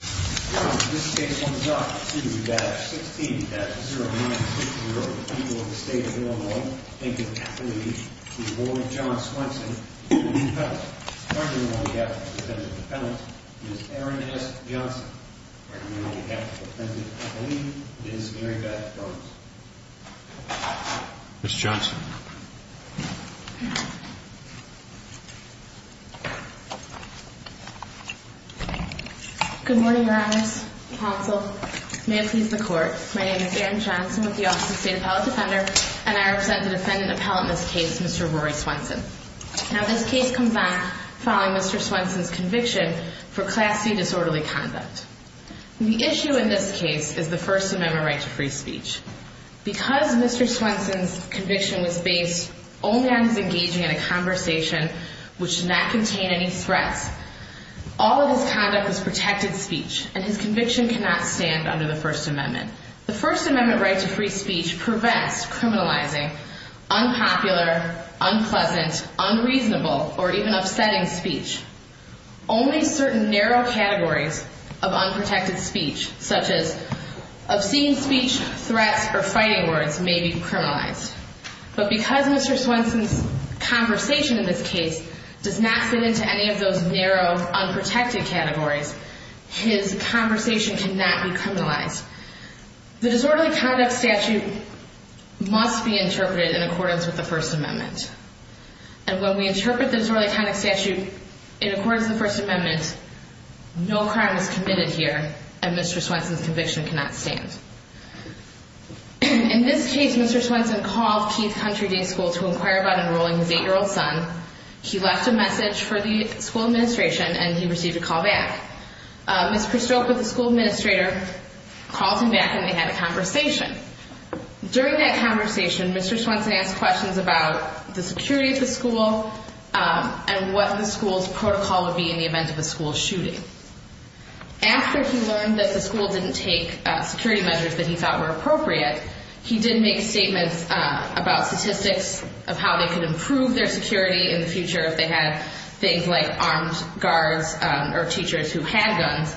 This case sums up to that 16-09-60, the people of the state of Illinois, thank you for your affidavit to the board of John Swenson, the defendant. Arguing on behalf of the defendant's defendant, Ms. Erin S. Johnson. Arguing on behalf of the defendant's affidavit, Ms. Mary Beth Burns. Ms. Johnson. Good morning, your honors, counsel, may it please the court. My name is Erin Johnson with the Office of State Appellate Defender, and I represent the defendant appellant in this case, Mr. Rory Swenson. Now this case comes back following Mr. Swenson's conviction for Class C disorderly conduct. The issue in this case is the First Amendment right to free speech. Because Mr. Swenson's conviction was based only on his engaging in a conversation which did not contain any threats, all of his conduct was protected speech, and his conviction cannot stand under the First Amendment. The First Amendment right to free speech prevents criminalizing unpopular, unpleasant, unreasonable, or even upsetting speech. Only certain narrow categories of unprotected speech, such as obscene speech, threats, or fighting words, may be criminalized. But because Mr. Swenson's conversation in this case does not fit into any of those narrow, unprotected categories, his conversation cannot be criminalized. The disorderly conduct statute must be interpreted in accordance with the First Amendment. And when we interpret the disorderly conduct statute in accordance with the First Amendment, no crime is committed here, and Mr. Swenson's conviction cannot stand. In this case, Mr. Swenson called Keith Country Day School to inquire about enrolling his 8-year-old son. He left a message for the school administration, and he received a call back. Ms. Prestoka, the school administrator, called him back, and they had a conversation. During that conversation, Mr. Swenson asked questions about the security of the school and what the school's protocol would be in the event of a school shooting. After he learned that the school didn't take security measures that he thought were appropriate, he did make statements about statistics of how they could improve their security in the future if they had things like armed guards or teachers who had guns.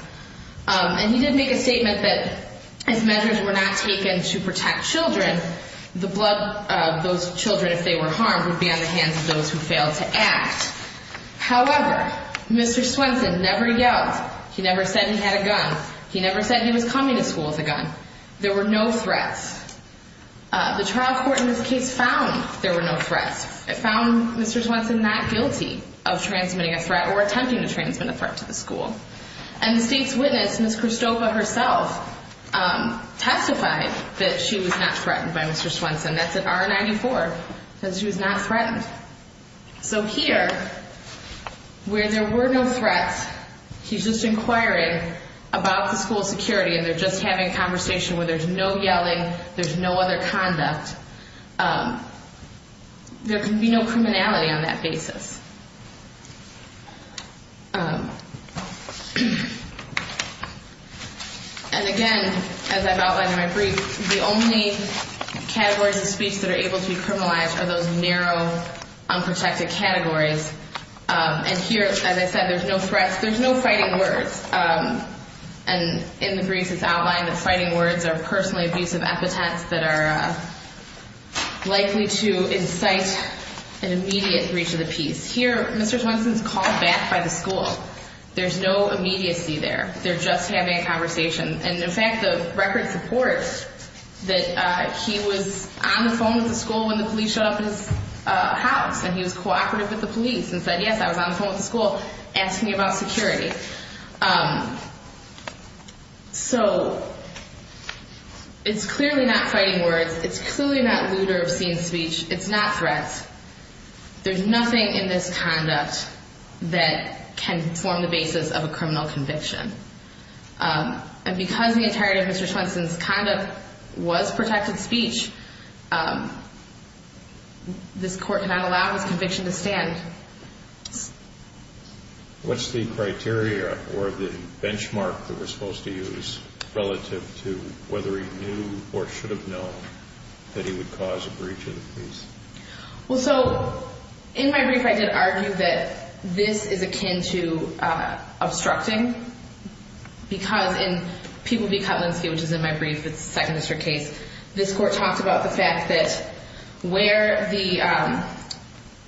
And he did make a statement that if measures were not taken to protect children, the blood of those children, if they were harmed, would be on the hands of those who failed to act. However, Mr. Swenson never yelled. He never said he had a gun. He never said he was coming to school with a gun. There were no threats. The trial court in this case found there were no threats. It found Mr. Swenson not guilty of transmitting a threat or attempting to transmit a threat to the school. And the state's witness, Ms. Christopha herself, testified that she was not threatened by Mr. Swenson. That's an R-94. It says she was not threatened. So here, where there were no threats, he's just inquiring about the school's security, and they're just having a conversation where there's no yelling, there's no other conduct. There can be no criminality on that basis. And, again, as I've outlined in my brief, the only categories of speech that are able to be criminalized are those narrow, unprotected categories. And here, as I said, there's no threats. There's no fighting words. And in the briefs, it's outlined that fighting words are personally abusive epithets that are likely to incite an immediate breach of the peace. Here, Mr. Swenson is called back by the school. There's no immediacy there. They're just having a conversation. And, in fact, the records report that he was on the phone with the school when the police showed up at his house, and he was cooperative with the police and said, yes, I was on the phone with the school asking about security. So it's clearly not fighting words. It's clearly not lewd or obscene speech. It's not threats. There's nothing in this conduct that can form the basis of a criminal conviction. And because the entirety of Mr. Swenson's conduct was protected speech, this court cannot allow his conviction to stand. What's the criteria or the benchmark that we're supposed to use relative to whether he knew or should have known that he would cause a breach of the peace? Well, so, in my brief, I did argue that this is akin to obstructing, because in People v. Kotlinski, which is in my brief, it's a Second District case, this court talked about the fact that where the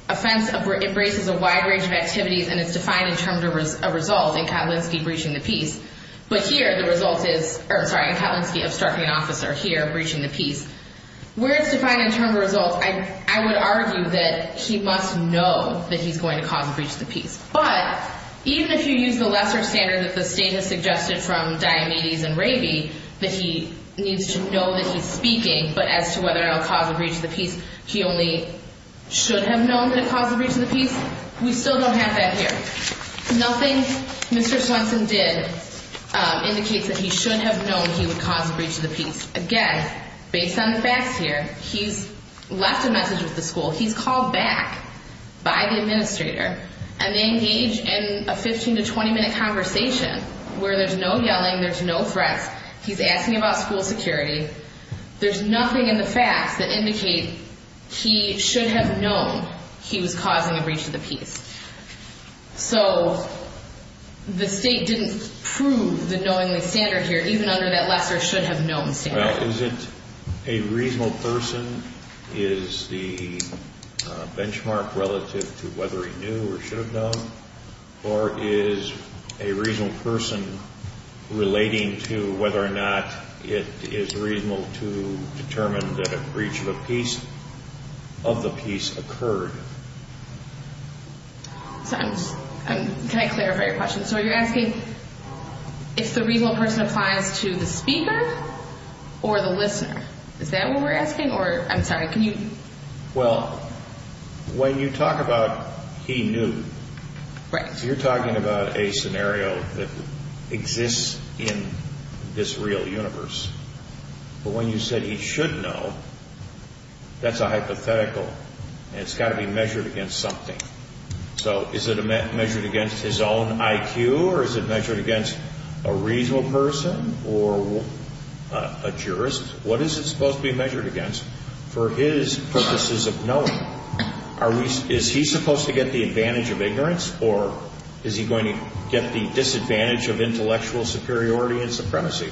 offense embraces a wide range of activities and it's defined in terms of a result, in Kotlinski, breaching the peace, but here the result is, sorry, in Kotlinski, obstructing an officer, here, breaching the peace. Where it's defined in terms of results, I would argue that he must know that he's going to cause a breach of the peace. But even if you use the lesser standard that the State has suggested from Diomedes and Raby, that he needs to know that he's speaking, but as to whether or not it will cause a breach of the peace, he only should have known that it caused a breach of the peace, we still don't have that here. Nothing Mr. Swenson did indicates that he should have known he would cause a breach of the peace. Again, based on the facts here, he's left a message with the school, he's called back by the administrator, and they engage in a 15 to 20 minute conversation where there's no yelling, there's no threats, he's asking about school security, there's nothing in the facts that indicate he should have known he was causing a breach of the peace. So the State didn't prove the knowingly standard here, even under that lesser should have known standard. Is it a reasonable person, is the benchmark relative to whether he knew or should have known? Or is a reasonable person relating to whether or not it is reasonable to determine that a breach of the peace occurred? Can I clarify your question? So you're asking if the reasonable person applies to the speaker or the listener, is that what we're asking? Well, when you talk about he knew, you're talking about a scenario that exists in this real universe. But when you said he should know, that's a hypothetical, and it's got to be measured against something. So is it measured against his own IQ or is it measured against a reasonable person or a jurist? What is it supposed to be measured against for his purposes of knowing? Is he supposed to get the advantage of ignorance or is he going to get the disadvantage of intellectual superiority and supremacy?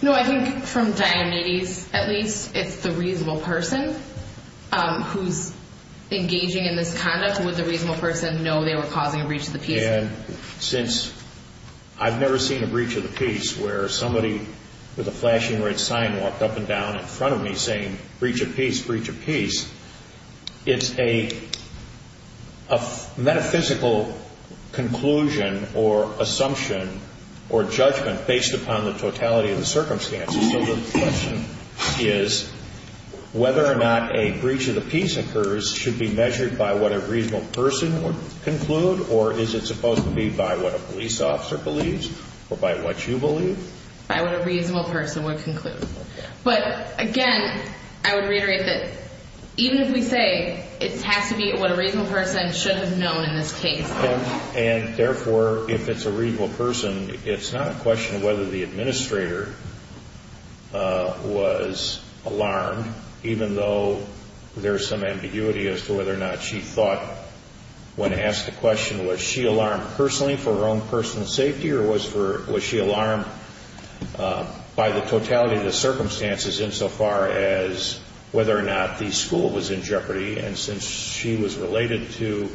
No, I think from Diane Nady's, at least, it's the reasonable person who's engaging in this conduct. Would the reasonable person know they were causing a breach of the peace? And since I've never seen a breach of the peace where somebody with a flashing red sign walked up and down in front of me saying, breach of peace, breach of peace, it's a metaphysical conclusion or assumption or judgment based upon the totality of the circumstances. So the question is whether or not a breach of the peace occurs should be measured by what a reasonable person would conclude, or is it supposed to be by what a police officer believes or by what you believe? By what a reasonable person would conclude. But again, I would reiterate that even if we say it has to be what a reasonable person should have known in this case. And therefore, if it's a reasonable person, it's not a question of whether the administrator was alarmed, even though there's some ambiguity as to whether or not she thought when asked the question, was she alarmed personally for her own personal safety or was she alarmed by the totality of the circumstances insofar as whether or not the school was in jeopardy. And since she was related to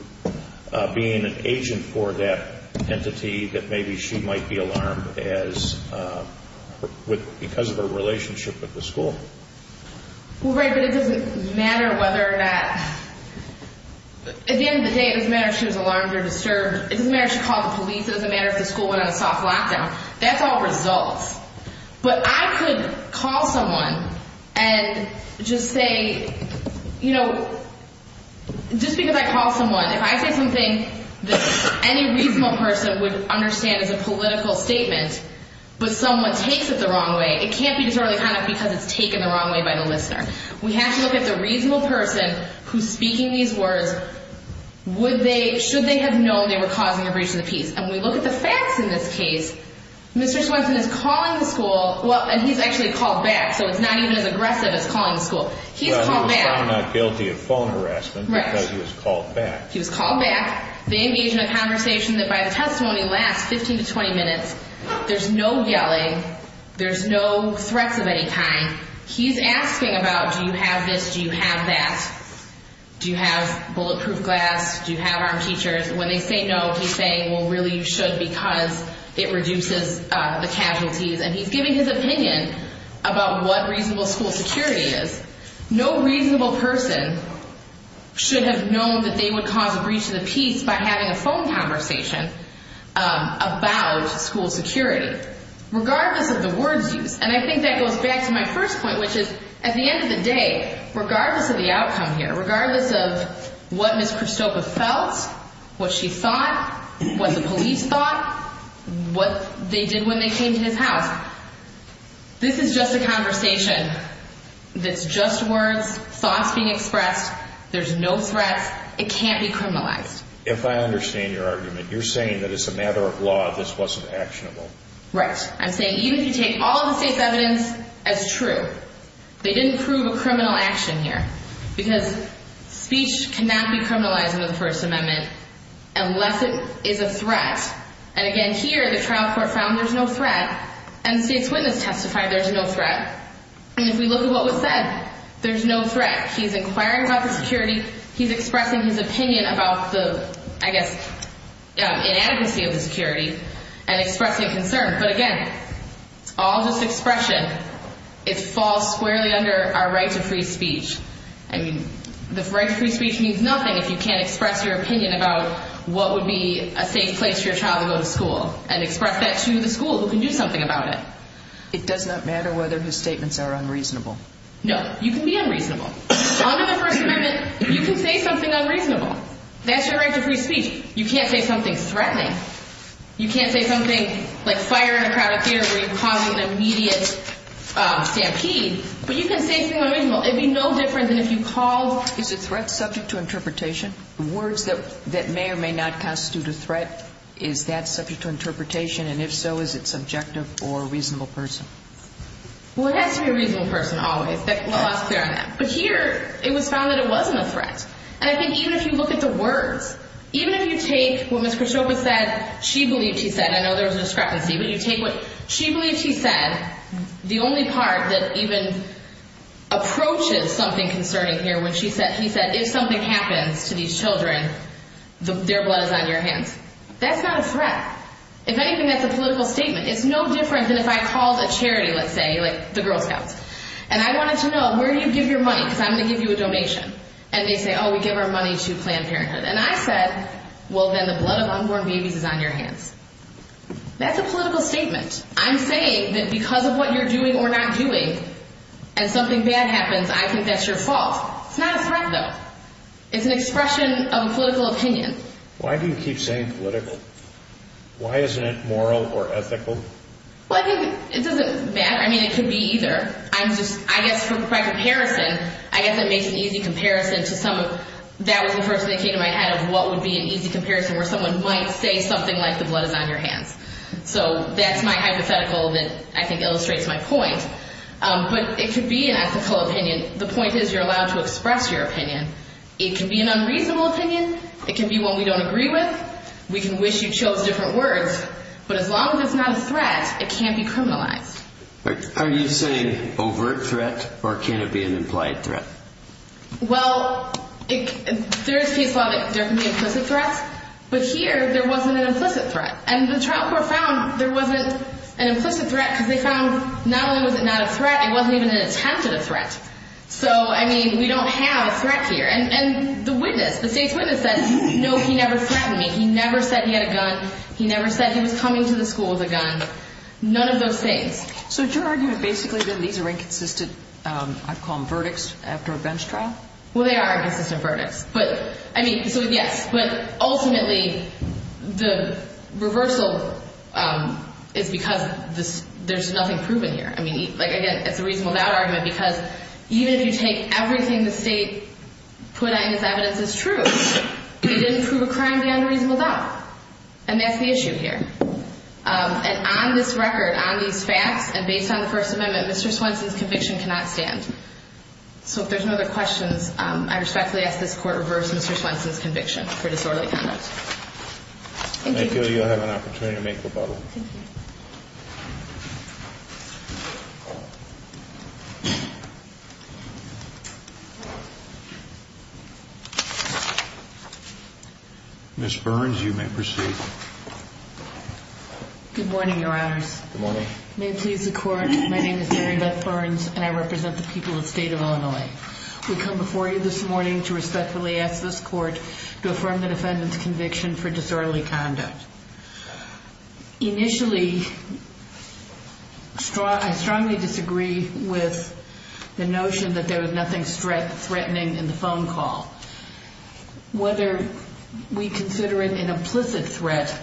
being an agent for that entity, that maybe she might be alarmed because of her relationship with the school. Well, right, but it doesn't matter whether or not. At the end of the day, it doesn't matter if she was alarmed or disturbed. It doesn't matter if she called the police. It doesn't matter if the school went on a soft lockdown. That's all results. But I could call someone and just say, you know, just because I call someone, if I say something that any reasonable person would understand as a political statement, but someone takes it the wrong way, it can't be disorderly conduct because it's taken the wrong way by the listener. We have to look at the reasonable person who's speaking these words, should they have known they were causing a breach of the peace. And we look at the facts in this case. Mr. Swenson is calling the school, and he's actually called back, so it's not even as aggressive as calling the school. He's called back. Well, he was found not guilty of phone harassment because he was called back. He was called back. They engage in a conversation that, by the testimony, lasts 15 to 20 minutes. There's no yelling. There's no threats of any kind. He's asking about do you have this, do you have that. Do you have bulletproof glass? Do you have armed teachers? When they say no, he's saying, well, really, you should because it reduces the casualties. And he's giving his opinion about what reasonable school security is. No reasonable person should have known that they would cause a breach of the peace by having a phone conversation about school security. Regardless of the words used. And I think that goes back to my first point, which is, at the end of the day, regardless of the outcome here, regardless of what Ms. Christopher felt, what she thought, what the police thought, what they did when they came to his house, this is just a conversation that's just words, thoughts being expressed. There's no threats. It can't be criminalized. If I understand your argument, you're saying that as a matter of law this wasn't actionable. Right. I'm saying even if you take all of the state's evidence as true, they didn't prove a criminal action here. Because speech cannot be criminalized under the First Amendment unless it is a threat. And, again, here the trial court found there's no threat, and the state's witness testified there's no threat. And if we look at what was said, there's no threat. He's inquiring about the security. He's expressing his opinion about the, I guess, inadequacy of the security and expressing concern. But, again, it's all just expression. It falls squarely under our right to free speech. I mean, the right to free speech means nothing if you can't express your opinion about what would be a safe place for your child to go to school and express that to the school who can do something about it. It does not matter whether his statements are unreasonable. No. You can be unreasonable. Under the First Amendment, you can say something unreasonable. That's your right to free speech. You can't say something threatening. You can't say something like fire in a crowded theater where you're causing an immediate stampede. But you can say something unreasonable. It would be no different than if you called. Is a threat subject to interpretation? Words that may or may not constitute a threat, is that subject to interpretation? And if so, is it subjective or a reasonable person? Well, it has to be a reasonable person always. But here, it was found that it wasn't a threat. And I think even if you look at the words, even if you take what Ms. Khrushcheva said, she believed she said, I know there was a discrepancy, but you take what she believed she said, the only part that even approaches something concerning here, when she said, he said, if something happens to these children, their blood is on your hands. That's not a threat. If anything, that's a political statement. It's no different than if I called a charity, let's say, like the Girl Scouts. And I wanted to know, where do you give your money? Because I'm going to give you a donation. And they say, oh, we give our money to Planned Parenthood. And I said, well, then the blood of unborn babies is on your hands. That's a political statement. I'm saying that because of what you're doing or not doing, and something bad happens, I think that's your fault. It's not a threat, though. It's an expression of a political opinion. Why do you keep saying political? Why isn't it moral or ethical? Well, I think it doesn't matter. I mean, it could be either. I guess by comparison, I guess it makes an easy comparison to some of that was the first thing that came to my head of what would be an easy comparison where someone might say something like the blood is on your hands. So that's my hypothetical that I think illustrates my point. But it could be an ethical opinion. The point is you're allowed to express your opinion. It can be an unreasonable opinion. It can be one we don't agree with. We can wish you chose different words. But as long as it's not a threat, it can't be criminalized. Are you saying overt threat or can it be an implied threat? Well, there is case law that there can be implicit threats. But here there wasn't an implicit threat. And the trial court found there wasn't an implicit threat because they found not only was it not a threat, it wasn't even an attempt at a threat. So, I mean, we don't have a threat here. And the witness, the state's witness said, no, he never threatened me. He never said he had a gun. He never said he was coming to the school with a gun. None of those things. So is your argument basically that these are inconsistent, I'd call them, verdicts after a bench trial? Well, they are inconsistent verdicts. But, I mean, so, yes. But ultimately the reversal is because there's nothing proven here. I mean, like, again, it's a reasonable doubt argument because even if you take everything the state put out as evidence as true, it didn't prove a crime beyond a reasonable doubt. And that's the issue here. And on this record, on these facts, and based on the First Amendment, Mr. Swenson's conviction cannot stand. So if there's no other questions, I respectfully ask this court reverse Mr. Swenson's conviction for disorderly conduct. Thank you. Thank you. You'll have an opportunity to make rebuttal. Thank you. Ms. Burns, you may proceed. Good morning, Your Honors. Good morning. May it please the Court, my name is Mary Beth Burns, and I represent the people of the state of Illinois. We come before you this morning to respectfully ask this court to affirm the defendant's conviction for disorderly conduct. Initially, I strongly disagree with the notion that there was nothing threatening in the phone call. Whether we consider it an implicit threat,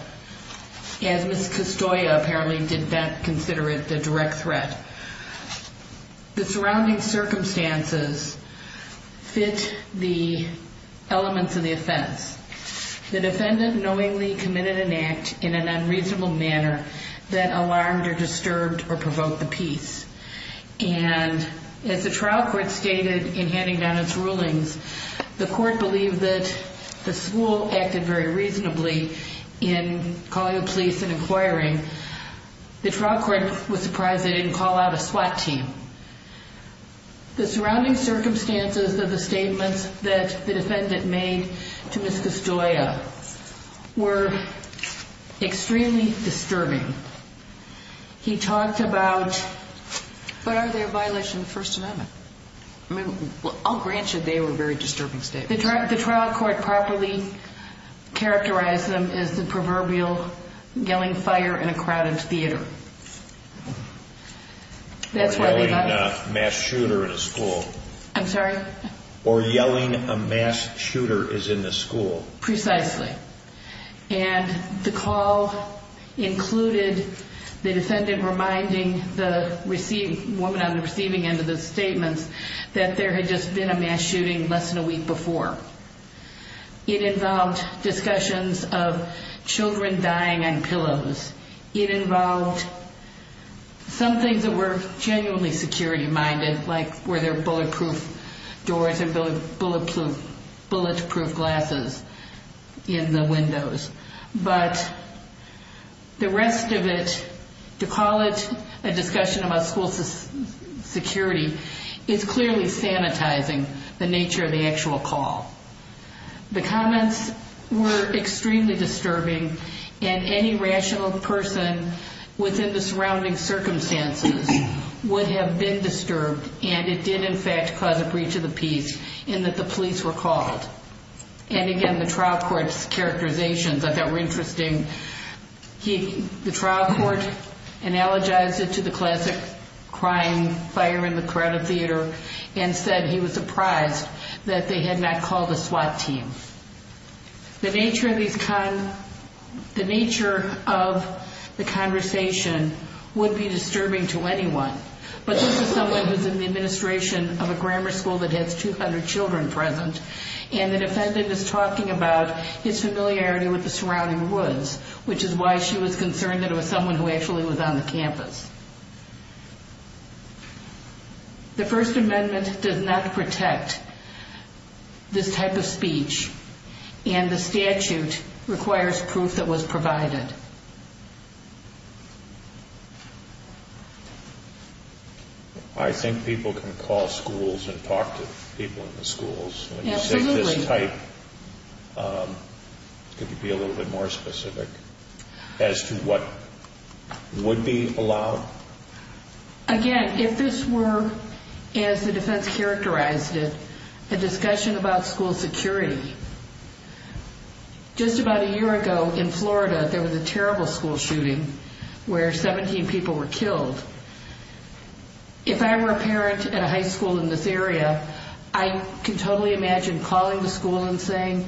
as Ms. Castoya apparently did not consider it a direct threat. The surrounding circumstances fit the elements of the offense. The defendant knowingly committed an act in an unreasonable manner that alarmed or disturbed or provoked the peace. The court believed that the school acted very reasonably in calling the police and inquiring. The trial court was surprised they didn't call out a SWAT team. The surrounding circumstances of the statements that the defendant made to Ms. Castoya were extremely disturbing. He talked about, but are they a violation of the First Amendment? I'll grant you they were very disturbing statements. The trial court properly characterized them as the proverbial yelling fire in a crowded theater. Or yelling a mass shooter in a school. I'm sorry? Or yelling a mass shooter is in the school. Precisely. And the call included the defendant reminding the woman on the receiving end of the statements that there had just been a mass shooting less than a week before. It involved discussions of children dying on pillows. It involved some things that were genuinely security minded, like were there bulletproof doors and bulletproof glasses in the windows. But the rest of it, to call it a discussion about school security, is clearly sanitizing the nature of the actual call. The comments were extremely disturbing and any rational person within the surrounding circumstances would have been disturbed and it did in fact cause a breach of the peace in that the police were called. And again, the trial court's characterizations I thought were interesting. The trial court analogized it to the classic crying fire in the crowded theater and said he was surprised that they had not called a SWAT team. The nature of the conversation would be disturbing to anyone. But this is someone who's in the administration of a grammar school that has 200 children present, and the defendant is talking about his familiarity with the surrounding woods, which is why she was concerned that it was someone who actually was on the campus. The First Amendment does not protect this type of speech, and the statute requires proof that was provided. I think people can call schools and talk to people in the schools. Absolutely. When you say this type, could you be a little bit more specific as to what would be allowed? Again, if this were, as the defense characterized it, a discussion about school security, just about a year ago in Florida there was a terrible school shooting where 17 people were killed. If I were a parent at a high school in this area, I could totally imagine calling the school and saying,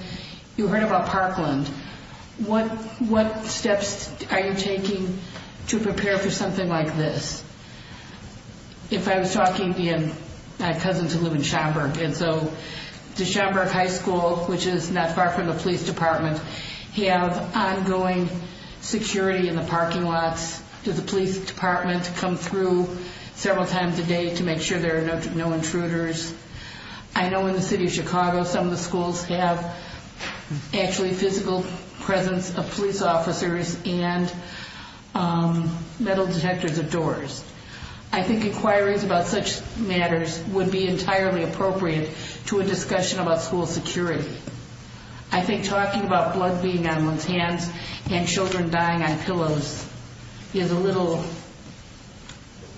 you heard about Parkland. What steps are you taking to prepare for something like this? If I was talking to my cousin who lives in Schaumburg, does Schaumburg High School, which is not far from the police department, have ongoing security in the parking lots? Does the police department come through several times a day to make sure there are no intruders? I know in the city of Chicago some of the schools have actually physical presence of police officers and metal detectors at doors. I think inquiries about such matters would be entirely appropriate to a discussion about school security. I think talking about blood being on one's hands and children dying on pillows is a little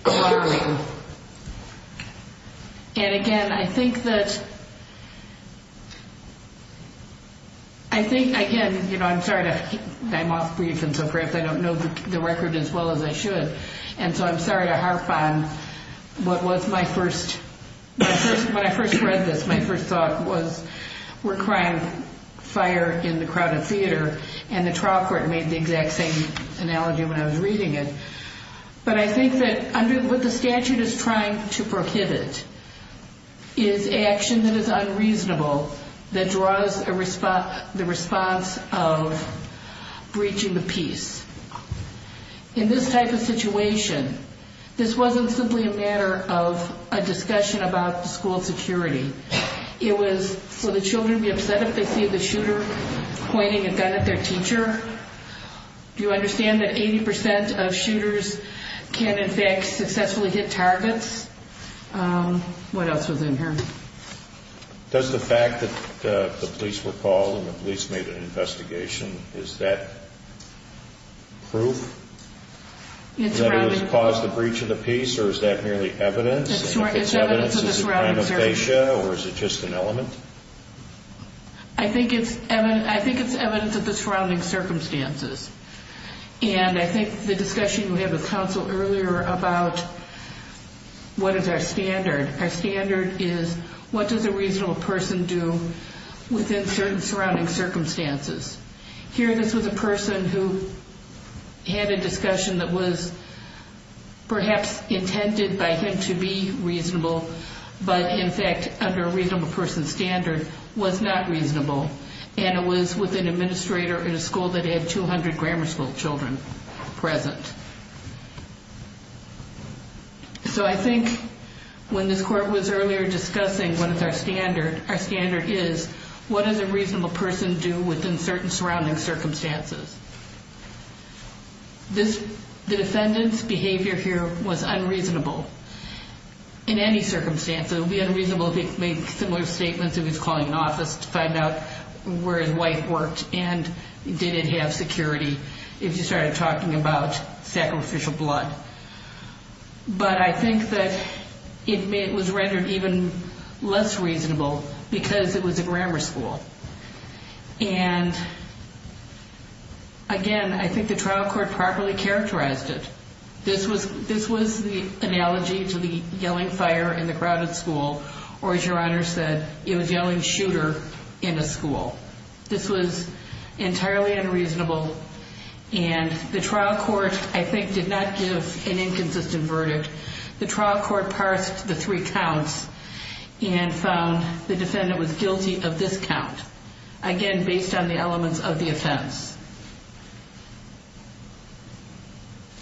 harrowing. Again, I'm sorry to keep my mouth brief. I don't know the record as well as I should. I'm sorry to harp on, when I first read this, my first thought was, we're crying fire in the crowded theater. The trial court made the exact same analogy when I was reading it. But I think that what the statute is trying to prohibit is action that is unreasonable that draws the response of breaching the peace. In this type of situation, this wasn't simply a matter of a discussion about school security. It was for the children to be upset if they see the shooter pointing a gun at their teacher. Do you understand that 80% of shooters can, in fact, successfully hit targets? What else was in here? Does the fact that the police were called and the police made an investigation, is that proof? That it caused the breach of the peace, or is that merely evidence? If it's evidence, is it ramifacia, or is it just an element? I think it's evidence of the surrounding circumstances. And I think the discussion we had with counsel earlier about what is our standard, our standard is what does a reasonable person do within certain surrounding circumstances. Here this was a person who had a discussion that was perhaps intended by him to be reasonable, but in fact under a reasonable person standard was not reasonable. And it was with an administrator in a school that had 200 grammar school children present. So I think when this court was earlier discussing what is our standard, our standard is what does a reasonable person do within certain surrounding circumstances. The defendant's behavior here was unreasonable. In any circumstance, it would be unreasonable to make similar statements if he's calling an office to find out where his wife worked and did it have security, if you started talking about sacrificial blood. But I think that it was rendered even less reasonable because it was a grammar school. And again, I think the trial court properly characterized it. This was the analogy to the yelling fire in the crowded school, or as Your Honor said, it was yelling shooter in a school. This was entirely unreasonable. And the trial court I think did not give an inconsistent verdict. The trial court parsed the three counts and found the defendant was guilty of this count, again, based on the elements of the offense.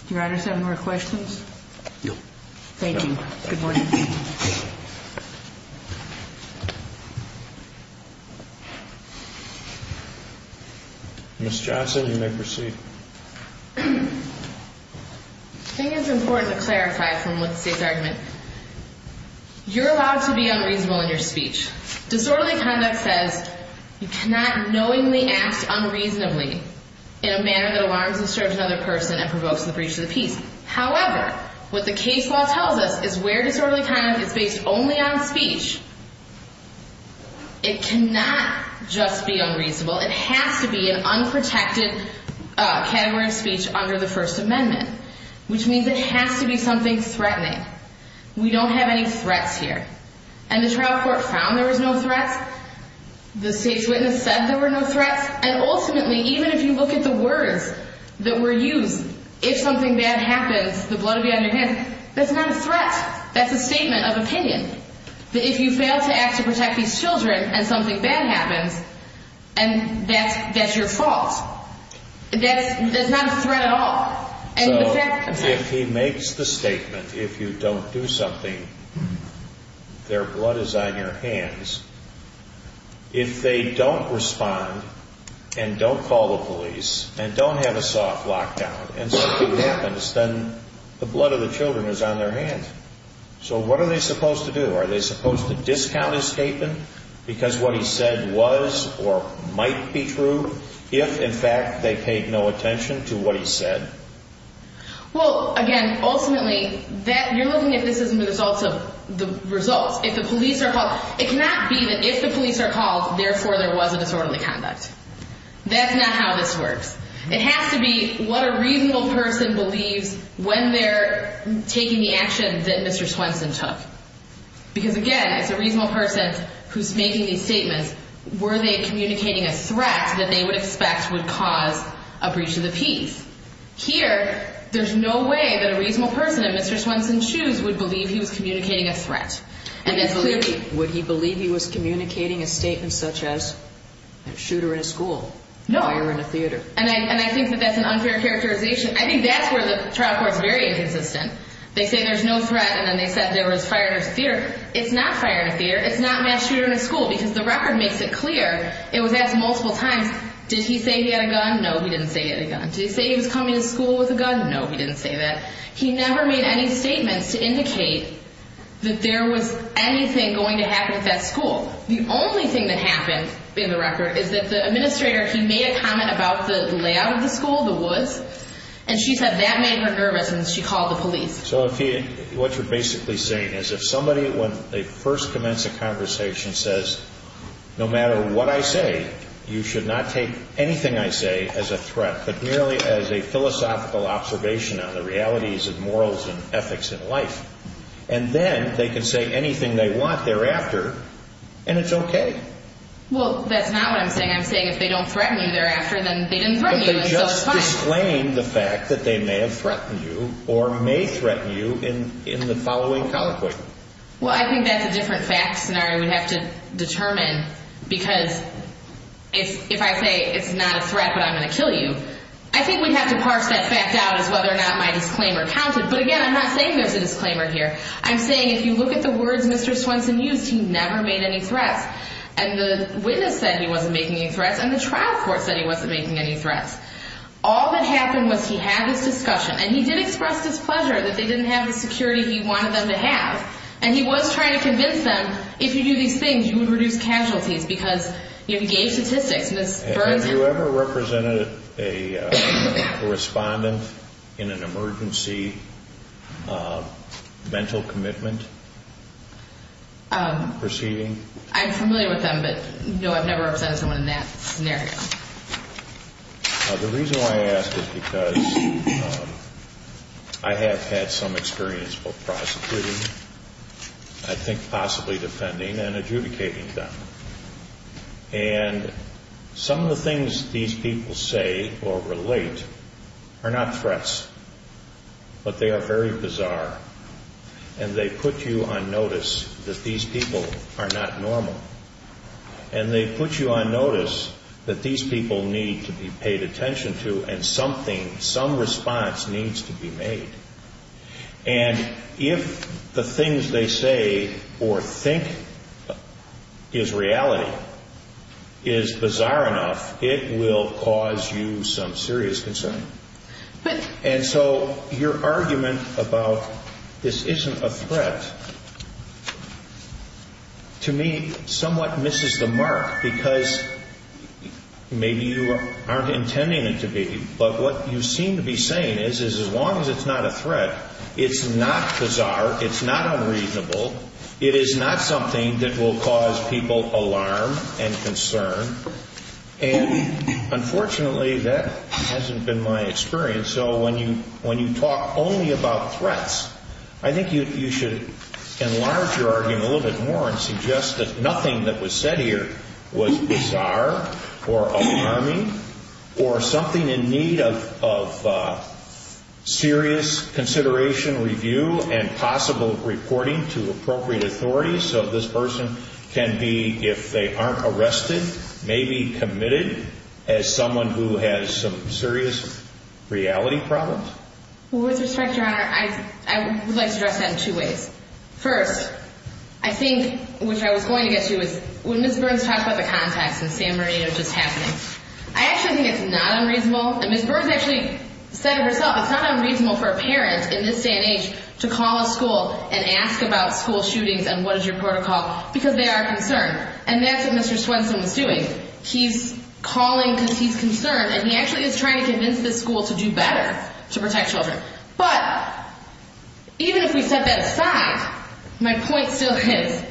Your Honor, seven more questions? No. Thank you. Good morning. Ms. Johnson, you may proceed. I think it's important to clarify from what the State's argument. You're allowed to be unreasonable in your speech. Disorderly conduct says you cannot knowingly act unreasonably in a manner that alarms and disturbs another person and provokes the breach of the peace. However, what the case law tells us is where disorderly conduct is based only on speech, it cannot just be unreasonable. It has to be an unprotected category of speech under the First Amendment, which means it has to be something threatening. We don't have any threats here. And the trial court found there was no threats. The State's witness said there were no threats. And ultimately, even if you look at the words that were used, if something bad happens, the blood will be on your hands, that's not a threat. That's a statement of opinion, that if you fail to act to protect these children and something bad happens, that's your fault. That's not a threat at all. So if he makes the statement, if you don't do something, their blood is on your hands. If they don't respond and don't call the police and don't have a soft lockdown and something happens, then the blood of the children is on their hands. So what are they supposed to do? Are they supposed to discount his statement because what he said was or might be true if, in fact, they paid no attention to what he said? Well, again, ultimately, you're looking at this as a result of the results. If the police are called, it cannot be that if the police are called, therefore there was a disorderly conduct. That's not how this works. It has to be what a reasonable person believes when they're taking the action that Mr. Swenson took. Were they communicating a threat that they would expect would cause a breach of the peace? Here, there's no way that a reasonable person in Mr. Swenson's shoes would believe he was communicating a threat. Would he believe he was communicating a statement such as a shooter in a school, a fire in a theater? No. And I think that that's an unfair characterization. I think that's where the trial court is very inconsistent. They say there's no threat, and then they said there was fire in a theater. It's not fire in a theater. It's not a mass shooter in a school because the record makes it clear. It was asked multiple times, did he say he had a gun? No, he didn't say he had a gun. Did he say he was coming to school with a gun? No, he didn't say that. He never made any statements to indicate that there was anything going to happen at that school. The only thing that happened in the record is that the administrator, he made a comment about the layout of the school, the woods, and she said that made her nervous, and she called the police. So what you're basically saying is if somebody, when they first commence a conversation, says, no matter what I say, you should not take anything I say as a threat, but merely as a philosophical observation on the realities and morals and ethics in life, and then they can say anything they want thereafter, and it's okay. Well, that's not what I'm saying. I'm saying if they don't threaten you thereafter, then they didn't threaten you, and so it's fine. Explain the fact that they may have threatened you or may threaten you in the following conversation. Well, I think that's a different fact scenario we have to determine because if I say it's not a threat but I'm going to kill you, I think we'd have to parse that fact out as whether or not my disclaimer counted. But again, I'm not saying there's a disclaimer here. I'm saying if you look at the words Mr. Swenson used, he never made any threats, and the witness said he wasn't making any threats, and the trial court said he wasn't making any threats. All that happened was he had his discussion, and he did express his pleasure that they didn't have the security he wanted them to have, and he was trying to convince them if you do these things, you would reduce casualties because he gave statistics. Have you ever represented a respondent in an emergency mental commitment proceeding? I'm familiar with them, but no, I've never represented someone in that scenario. The reason why I ask is because I have had some experience both prosecuting, I think possibly defending, and adjudicating them. And some of the things these people say or relate are not threats, but they are very bizarre, and they put you on notice that these people are not normal, and they put you on notice that these people need to be paid attention to and something, some response needs to be made. And if the things they say or think is reality is bizarre enough, it will cause you some serious concern. And so your argument about this isn't a threat to me somewhat misses the mark, because maybe you aren't intending it to be, but what you seem to be saying is as long as it's not a threat, it's not bizarre, it's not unreasonable, it is not something that will cause people alarm and concern. And unfortunately, that hasn't been my experience, so when you talk only about threats, I think you should enlarge your argument a little bit more and suggest that nothing that was said here was bizarre or alarming or something in need of serious consideration, review, and possible reporting to appropriate authorities so this person can be, if they aren't arrested, maybe committed as someone who has some serious reality problems. With respect, Your Honor, I would like to address that in two ways. First, I think, which I was going to get to, is when Ms. Burns talked about the contacts in San Marino just happening, I actually think it's not unreasonable, and Ms. Burns actually said it herself, it's not unreasonable for a parent in this day and age to call a school and ask about school shootings and what is your protocol, because they are concerned. And that's what Mr. Swenson was doing. He's calling because he's concerned, and he actually is trying to convince this school to do better to protect children. But, even if we set that aside, my point still is,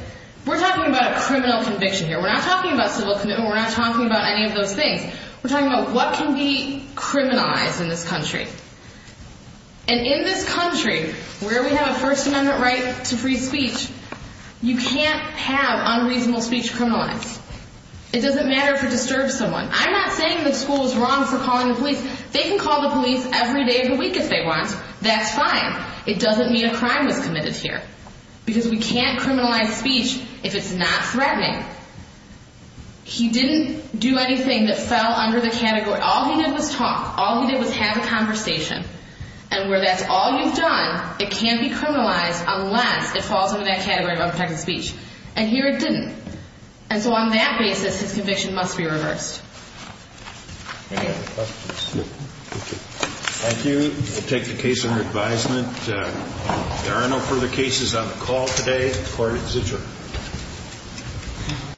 we're talking about a criminal conviction here. We're not talking about civil commitment, we're not talking about any of those things. We're talking about what can be criminalized in this country. And in this country, where we have a First Amendment right to free speech, you can't have unreasonable speech criminalized. It doesn't matter if it disturbs someone. I'm not saying the school is wrong for calling the police. They can call the police every day of the week if they want. That's fine. It doesn't mean a crime was committed here, because we can't criminalize speech if it's not threatening. He didn't do anything that fell under the category. All he did was talk. All he did was have a conversation. And where that's all you've done, it can't be criminalized unless it falls under that category of unprotected speech. And here it didn't. And so on that basis, his conviction must be reversed. Any other questions? Thank you. I take the case under advisement. There are no further cases on the call today. The court is adjourned. Thank you.